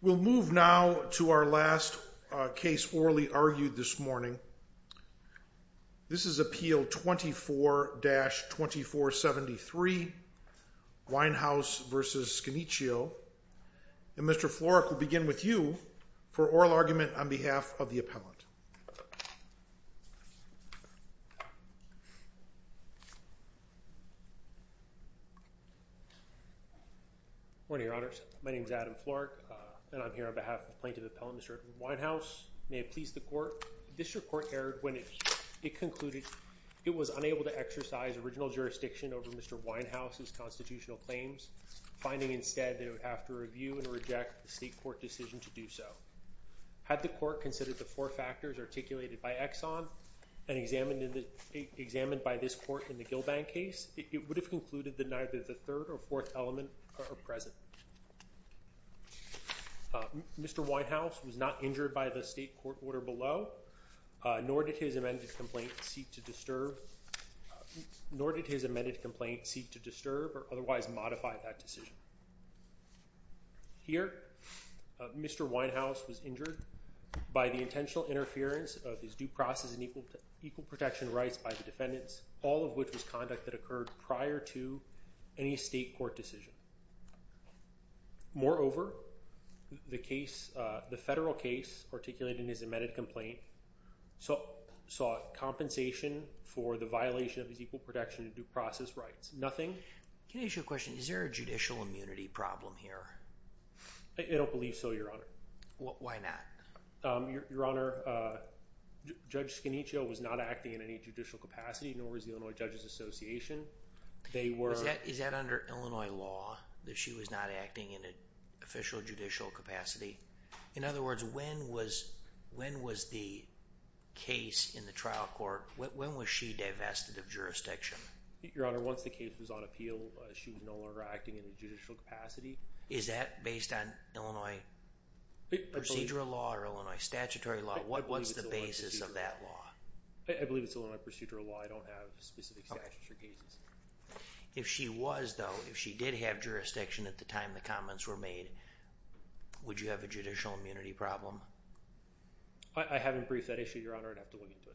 We'll move now to our last case orally argued this morning. This is Appeal 24-2473, Weinhaus v. Scannicchio, and Mr. Florek will begin with you for oral Good morning, Your Honors. My name is Adam Florek, and I'm here on behalf of the Plaintiff Appellant, Mr. Weinhaus. May it please the Court, this report aired when it concluded it was unable to exercise original jurisdiction over Mr. Weinhaus' constitutional claims, finding instead they would have to review and reject the State Court decision to do so. Had the Court considered the four factors articulated by Exxon and examined by this Court in the Gillbank case, it would have concluded that neither the third or fourth element are present. Mr. Weinhaus was not injured by the State Court order below, nor did his amended complaint seek to disturb or otherwise modify that decision. Here, Mr. Weinhaus was injured by the intentional interference of his due process and equal protection rights by the defendants, all of which was conduct that occurred prior to any State Court decision. Moreover, the case, the federal case, articulating his amended complaint, sought compensation for the violation of his equal protection and due process rights. Nothing. Can I ask you a question? Is there a judicial immunity problem here? I don't believe so, Your Honor. Why not? Your Honor, Judge Scaniccio was not acting in any judicial capacity, nor was the Illinois Judges Association. They were... Is that under Illinois law, that she was not acting in an official judicial capacity? In other words, when was the case in the trial court, when was she divested of jurisdiction? Your Honor, once the case was on appeal, she was no longer acting in a judicial capacity. Is that based on Illinois procedural law or Illinois statutory law? What's the basis of that law? I believe it's Illinois procedural law. I don't have specific statutory cases. If she was, though, if she did have jurisdiction at the time the comments were made, would you have a judicial immunity problem? I haven't briefed that issue, Your Honor. I'd have to look into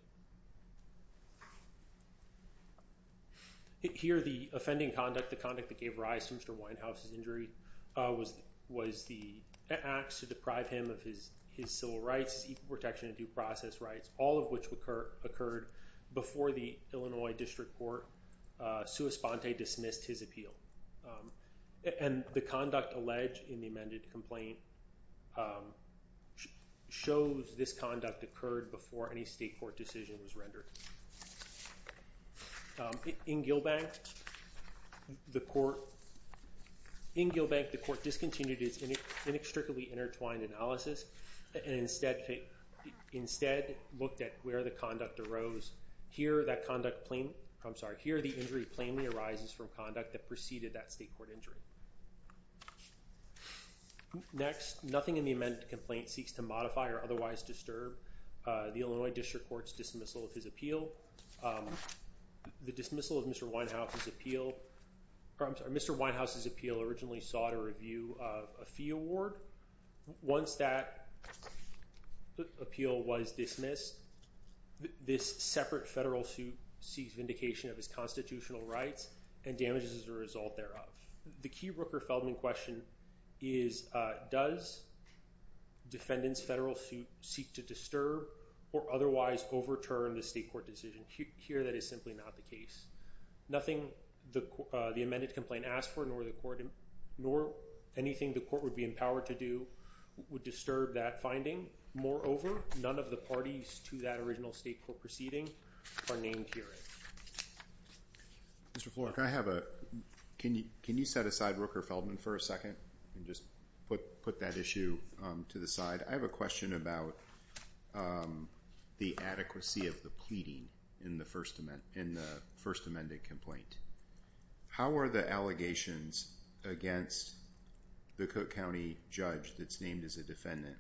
it. Here, the offending conduct, the conduct that gave rise to Mr. Winehouse's injury, was the acts to deprive him of his civil rights, his equal protection and due process rights, all of which occurred before the Illinois District Court, sua sponte, dismissed his appeal. And the conduct alleged in the amended complaint shows this conduct occurred before any state court decision was rendered. In Gilbank, the court discontinued its inextricably intertwined analysis and instead looked at where the conduct arose. Here that conduct, I'm sorry, here the injury plainly arises from conduct that preceded that state court injury. Next, nothing in the amended complaint seeks to modify or otherwise disturb the Illinois District Court's dismissal of his appeal. The dismissal of Mr. Winehouse's appeal, or I'm sorry, Mr. Winehouse's appeal originally sought a review of a fee award. Once that appeal was dismissed, this separate federal suit seeks vindication of his constitutional rights and damages as a result thereof. The key Rooker-Feldman question is, does defendant's federal suit seek to disturb or otherwise overturn the state court decision? Here that is simply not the case. Nothing the amended complaint asked for, nor the court, nor anything the court would be empowered to do would disturb that finding. Moreover, none of the parties to that original state court proceeding are named herein. Mr. Florek, can you set aside Rooker-Feldman for a second and just put that issue to the I have a question about the adequacy of the pleading in the first amended complaint. How are the allegations against the Cook County judge that's named as a defendant,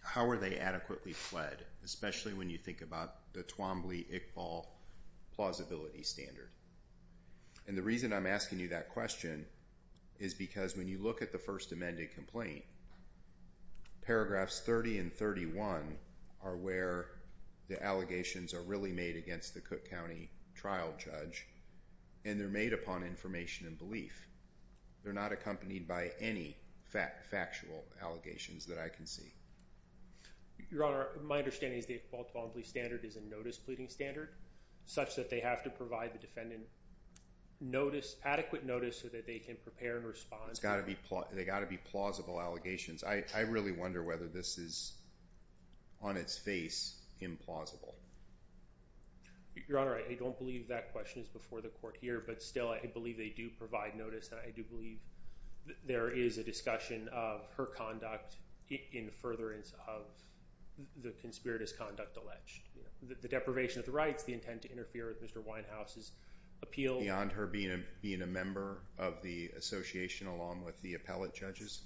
how are they adequately pled, especially when you think about the Twombly-Iqbal plausibility standard? And the reason I'm asking you that question is because when you look at the first amended complaint, paragraphs 30 and 31 are where the allegations are really made against the Cook County trial judge, and they're made upon information and belief. They're not accompanied by any factual allegations that I can see. Your Honor, my understanding is the Iqbal-Twombly standard is a notice pleading standard, such that they have to provide the defendant notice, adequate notice, so that they can prepare and respond. It's got to be, they got to be plausible allegations. I really wonder whether this is on its face implausible. Your Honor, I don't believe that question is before the court here, but still I believe they do provide notice, and I do believe that there is a discussion of her conduct in furtherance of the conspirator's conduct alleged. The deprivation of the rights, the intent to interfere with Mr. Winehouse's appeal. Beyond her being a member of the association along with the appellate judges?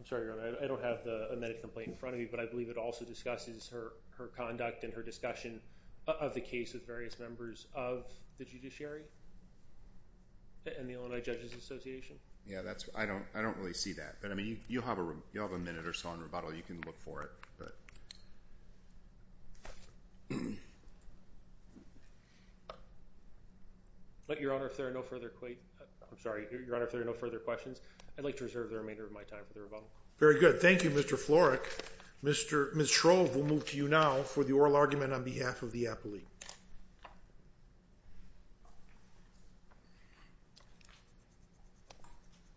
I'm sorry, Your Honor, I don't have the amended complaint in front of me, but I believe it also discusses her conduct and her discussion of the case with various members of the judiciary. And the Illinois Judges Association? Yeah, that's, I don't really see that, but I mean, you have a minute or so on rebuttal, you can look for it, but. Your Honor, if there are no further questions, I'd like to reserve the remainder of my time for the rebuttal. Very good. Thank you, Mr. Florek. Ms. Shrove will move to you now for the oral argument on behalf of the appellate. Thank you.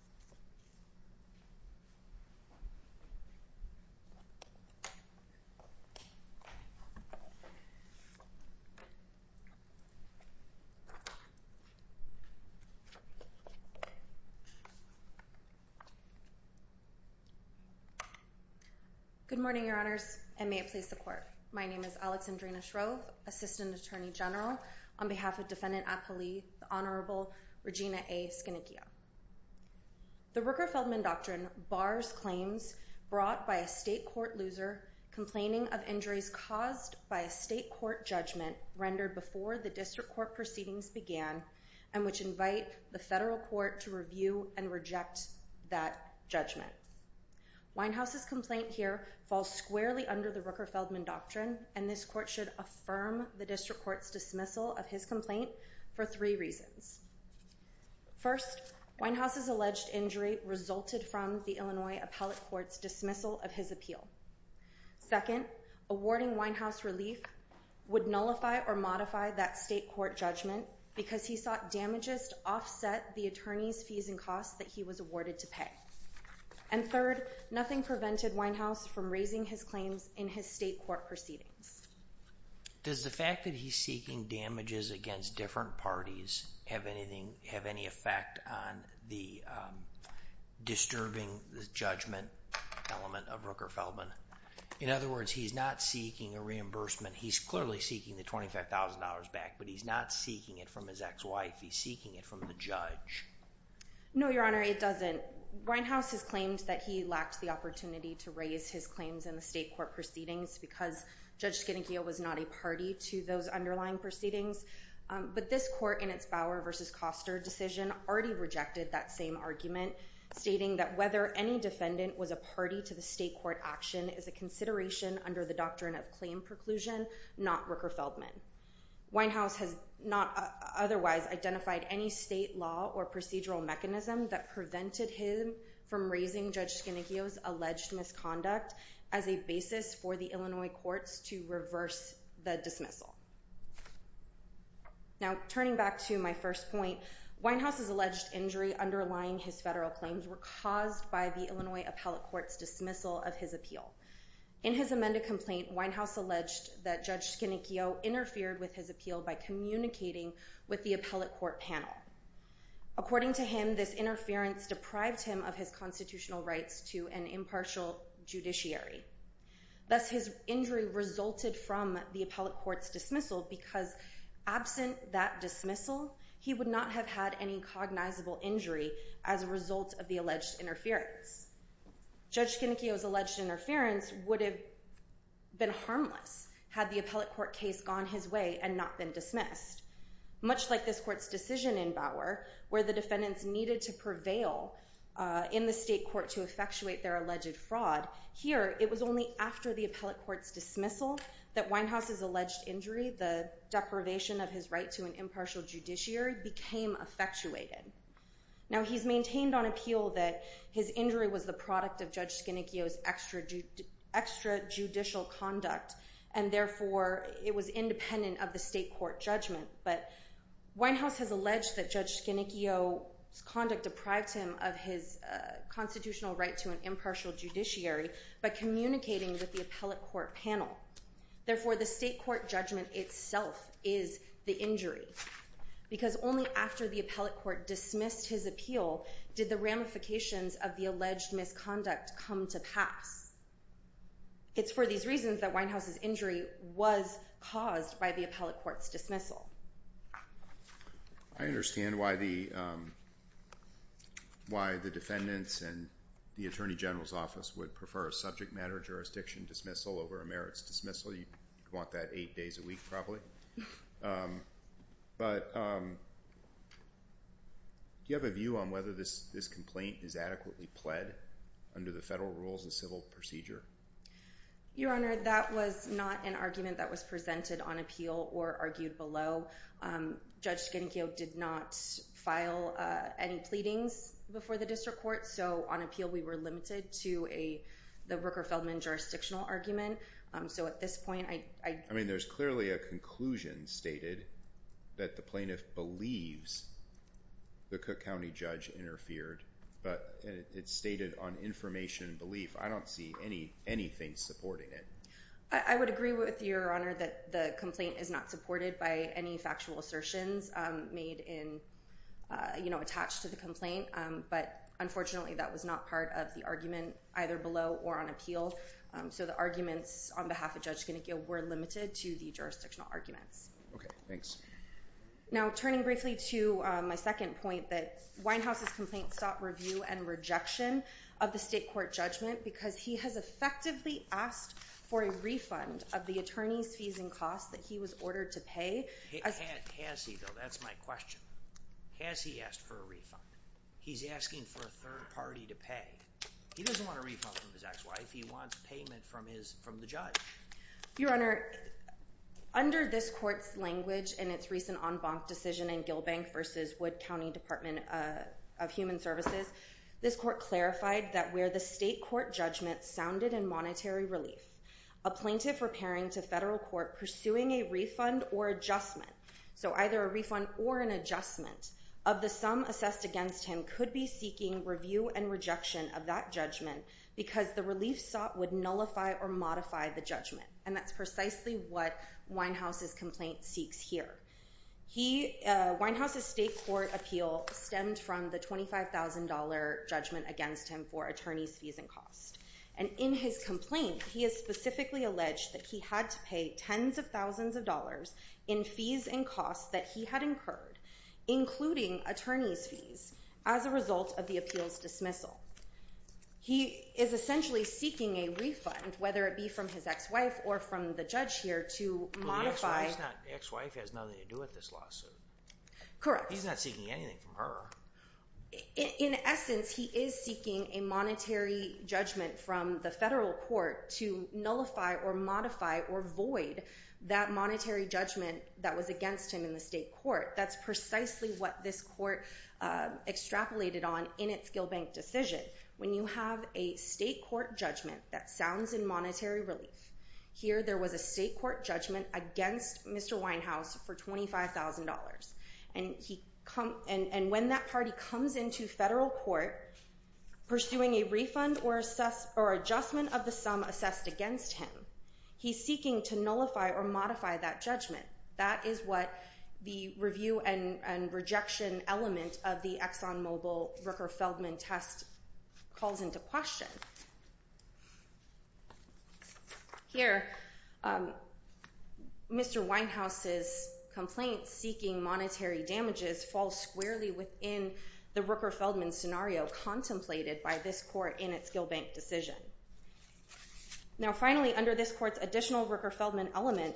Good morning, Your Honors, and may it please the Court. My name is Alexandrina Shrove, Assistant Attorney General, on behalf of Defendant Apolli, the Honorable Regina A. Skinikia. The Rooker-Feldman Doctrine bars claims brought by a state court loser complaining of injuries caused by a state court judgment rendered before the district court proceedings began and which invite the federal court to review and reject that judgment. Winehouse's complaint here falls squarely under the Rooker-Feldman Doctrine, and this court should affirm the district court's dismissal of his complaint for three reasons. First, Winehouse's alleged injury resulted from the Illinois appellate court's dismissal of his appeal. Second, awarding Winehouse relief would nullify or modify that state court judgment because he sought damages to offset the attorney's fees and costs that he was awarded to pay. And third, nothing prevented Winehouse from raising his claims in his state court proceedings. Does the fact that he's seeking damages against different parties have any effect on the disturbing judgment element of Rooker-Feldman? In other words, he's not seeking a reimbursement. He's clearly seeking the $25,000 back, but he's not seeking it from his ex-wife. He's seeking it from the judge. No, Your Honor, it doesn't. Winehouse has claimed that he lacked the opportunity to raise his claims in the state court proceedings because Judge Skenogio was not a party to those underlying proceedings. But this court, in its Bauer v. Koster decision, already rejected that same argument, stating that whether any defendant was a party to the state court action is a consideration under the doctrine of claim preclusion, not Rooker-Feldman. Winehouse has not otherwise identified any state law or procedural mechanism that prevented him from raising Judge Skenogio's alleged misconduct as a basis for the Illinois courts to reverse the dismissal. Now, turning back to my first point, Winehouse's alleged injury underlying his federal claims were caused by the Illinois appellate court's dismissal of his appeal. In his amended complaint, Winehouse alleged that Judge Skenogio interfered with his appeal by communicating with the appellate court panel. According to him, this interference deprived him of his constitutional rights to an impartial judiciary. Thus, his injury resulted from the appellate court's dismissal because, absent that dismissal, he would not have had any cognizable injury as a result of the alleged interference. Judge Skenogio's alleged interference would have been harmless had the appellate court case gone his way and not been dismissed. Much like this court's decision in Bauer, where the defendants needed to prevail in the state court to effectuate their alleged fraud, here it was only after the appellate court's dismissal that Winehouse's alleged injury, the deprivation of his right to an impartial judiciary, became effectuated. Now, he's maintained on appeal that his injury was the product of Judge Skenogio's extrajudicial conduct and, therefore, it was independent of the state court judgment. But Winehouse has alleged that Judge Skenogio's conduct deprived him of his constitutional right to an impartial judiciary by communicating with the appellate court panel. Therefore, the state court judgment itself is the injury. Because only after the appellate court dismissed his appeal did the ramifications of the alleged misconduct come to pass. It's for these reasons that Winehouse's injury was caused by the appellate court's dismissal. I understand why the defendants and the Attorney General's office would prefer a subject matter jurisdiction dismissal over a merits dismissal. You'd want that eight days a week, probably. But do you have a view on whether this complaint is adequately pled under the federal rules and civil procedure? Your Honor, that was not an argument that was presented on appeal or argued below. Judge Skenogio did not file any pleadings before the district court, so on appeal we were limited to the Rooker-Feldman jurisdictional argument. I mean, there's clearly a conclusion stated that the plaintiff believes the Cook County judge interfered, but it's stated on information and belief. I don't see anything supporting it. I would agree with you, Your Honor, that the complaint is not supported by any factual assertions made attached to the complaint, but unfortunately that was not part of the argument either below or on appeal. So the arguments on behalf of Judge Skenogio were limited to the jurisdictional arguments. Okay, thanks. Now, turning briefly to my second point that Winehouse's complaint sought review and rejection of the state court judgment because he has effectively asked for a refund of the attorney's fees and costs that he was ordered to pay. Has he, though? That's my question. Has he asked for a refund? He's asking for a third party to pay. He doesn't want a refund from his ex-wife. He wants payment from the judge. Your Honor, under this court's language in its recent en banc decision in Gilbank v. Wood County Department of Human Services, this court clarified that where the state court judgment sounded in monetary relief, a plaintiff repairing to federal court pursuing a refund or adjustment, so either a refund or an adjustment of the sum assessed against him could be seeking review and rejection of that judgment because the relief sought would nullify or modify the judgment. And that's precisely what Winehouse's complaint seeks here. Winehouse's state court appeal stemmed from the $25,000 judgment against him for attorney's fees and costs. And in his complaint, he has specifically alleged that he had to pay tens of thousands of dollars in fees and costs that he had incurred, including attorney's fees, as a result of the appeal's dismissal. He is essentially seeking a refund, whether it be from his ex-wife or from the judge here, to modify. But the ex-wife has nothing to do with this lawsuit. Correct. He's not seeking anything from her. In essence, he is seeking a monetary judgment from the federal court to nullify or modify or void that monetary judgment that was against him in the state court. That's precisely what this court extrapolated on in its Gill Bank decision. When you have a state court judgment that sounds in monetary relief, here there was a state court judgment against Mr. Winehouse for $25,000. And when that party comes into federal court pursuing a refund or adjustment of the sum assessed against him, he's seeking to nullify or modify that judgment. That is what the review and rejection element of the ExxonMobil Rooker-Feldman test calls into question. Here, Mr. Winehouse's complaint seeking monetary damages falls squarely within the Rooker-Feldman scenario contemplated by this court in its Gill Bank decision. Now finally, under this court's additional Rooker-Feldman element,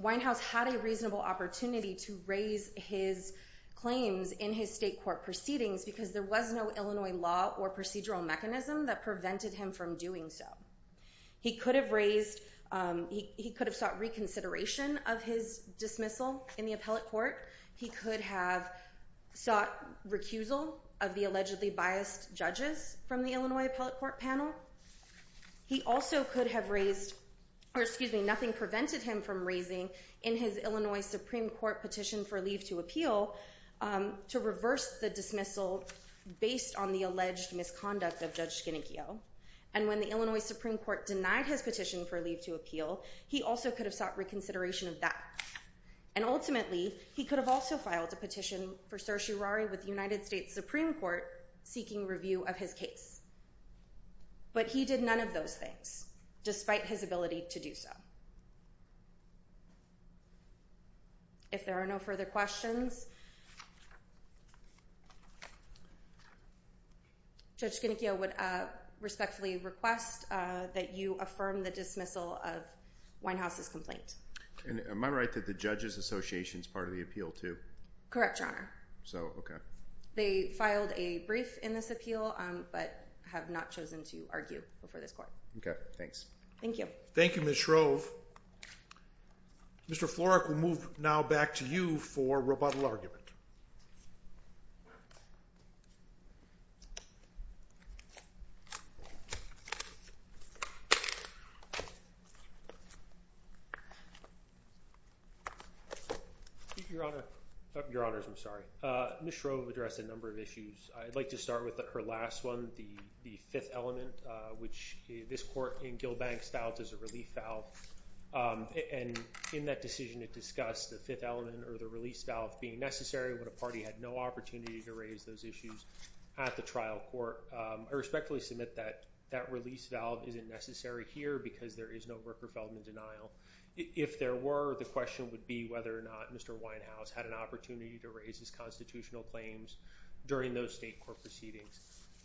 Winehouse had a reasonable opportunity to raise his claims in his state court proceedings because there was no Illinois law or procedural mechanism that prevented him from doing so. He could have sought reconsideration of his dismissal in the appellate court. He could have sought recusal of the allegedly biased judges from the Illinois appellate court panel. Nothing prevented him from raising in his Illinois Supreme Court petition for leave to appeal to reverse the dismissal based on the alleged misconduct of Judge Schenekio. And when the Illinois Supreme Court denied his petition for leave to appeal, he also could have sought reconsideration of that. And ultimately, he could have also filed a petition for certiorari with the United States Supreme Court seeking review of his case. But he did none of those things, despite his ability to do so. If there are no further questions, Judge Schenekio would respectfully request that you affirm the dismissal of Winehouse's complaint. Am I right that the Judges Association is part of the appeal too? Correct, Your Honor. So, okay. They filed a brief in this appeal, but have not chosen to argue before this court. Okay, thanks. Thank you. Thank you, Ms. Shrove. Mr. Florek, we'll move now back to you for rebuttal argument. Your Honor. Your Honors, I'm sorry. Ms. Shrove addressed a number of issues. I'd like to start with her last one, the fifth element, which this court in Gilbank filed as a relief valve. And in that decision, it discussed the fifth element or the release valve being necessary with respect to the case. I'm sorry, but a party had no opportunity to raise those issues at the trial court. I respectfully submit that that release valve isn't necessary here because there is no Brooker Feldman denial. If there were, the question would be whether or not Mr. Winehouse had an opportunity to raise his constitutional claims during those state court proceedings.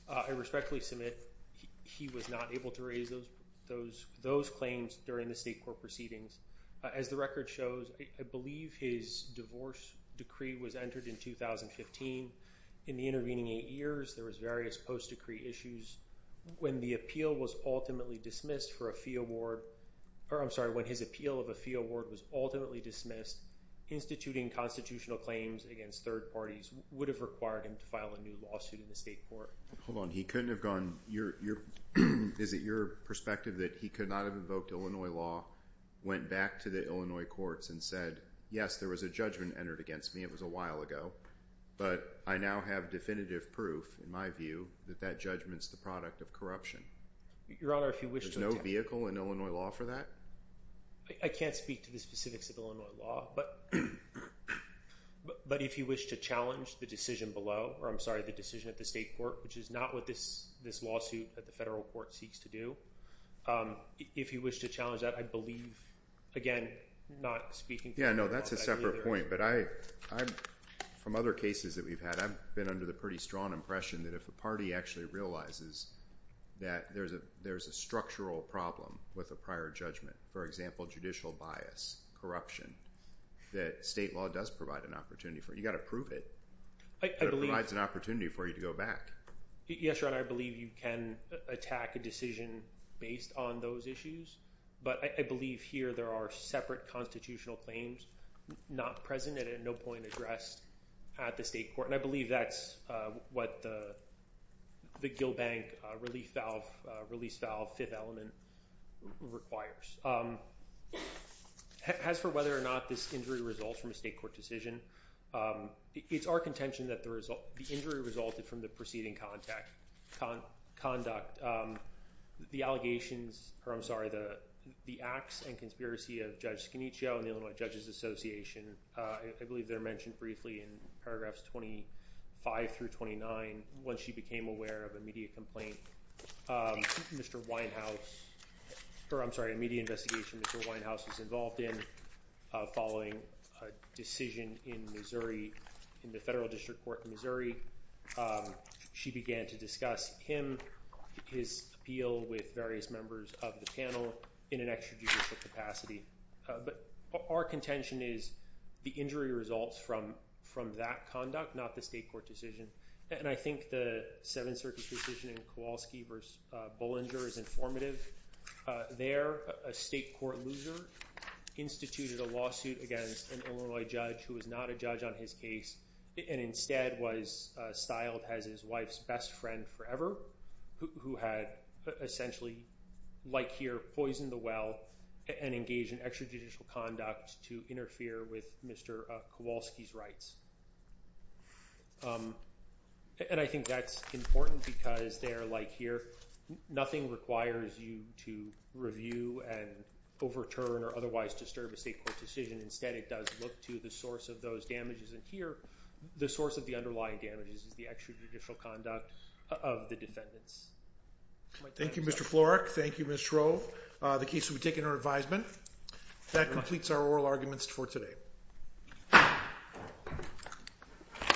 I respectfully submit he was not able to raise those claims during the state court proceedings. As the record shows, I believe his divorce decree was entered in 2015. In the intervening eight years, there was various post-decree issues. When the appeal was ultimately dismissed for a fee award, or I'm sorry, when his appeal of a fee award was ultimately dismissed, instituting constitutional claims against third parties would have required him to file a new lawsuit in the state court. Hold on. He couldn't have gone – is it your perspective that he could not have invoked Illinois law, went back to the Illinois courts and said, yes, there was a judgment entered against me, it was a while ago, but I now have definitive proof, in my view, that that judgment is the product of corruption? Your Honor, if you wish to – There's no vehicle in Illinois law for that? I can't speak to the specifics of Illinois law, but if you wish to challenge the decision below, or I'm sorry, the decision at the state court, which is not what this lawsuit at the federal court seeks to do, if you wish to challenge that, I believe, again, not speaking for myself. Yeah, no, that's a separate point, but from other cases that we've had, I've been under the pretty strong impression that if a party actually realizes that there's a structural problem with a prior judgment, for example, judicial bias, corruption, that state law does provide an opportunity for it. You've got to prove it. It provides an opportunity for you to go back. Yes, Your Honor, I believe you can attack a decision based on those issues, but I believe here there are separate constitutional claims not present and at no point addressed at the state court, and I believe that's what the Gill Bank release valve fifth element requires. As for whether or not this injury results from a state court decision, it's our contention that the injury resulted from the preceding conduct. The allegations, or I'm sorry, the acts and conspiracy of Judge Scaniccio and the Illinois Judges Association, I believe they're mentioned briefly in paragraphs 25 through 29 when she became aware of a media complaint. Mr. Winehouse, or I'm sorry, a media investigation Mr. Winehouse was involved in following a decision in Missouri, in the federal district court in Missouri. She began to discuss him, his appeal with various members of the panel in an extrajudicial capacity, but our contention is the injury results from that conduct, not the state court decision, and I think the Seventh Circuit decision in Kowalski v. Bollinger is informative. There, a state court loser instituted a lawsuit against an Illinois judge who was not a judge on his case and instead was styled as his wife's best friend forever, who had essentially, like here, poisoned the well and engaged in extrajudicial conduct to interfere with Mr. Kowalski's rights. And I think that's important because there, like here, nothing requires you to review and overturn or otherwise disturb a state court decision. Instead, it does look to the source of those damages. And here, the source of the underlying damages is the extrajudicial conduct of the defendants. Thank you, Mr. Florek. Thank you, Ms. Schro. The case will be taken under advisement. That completes our oral arguments for today.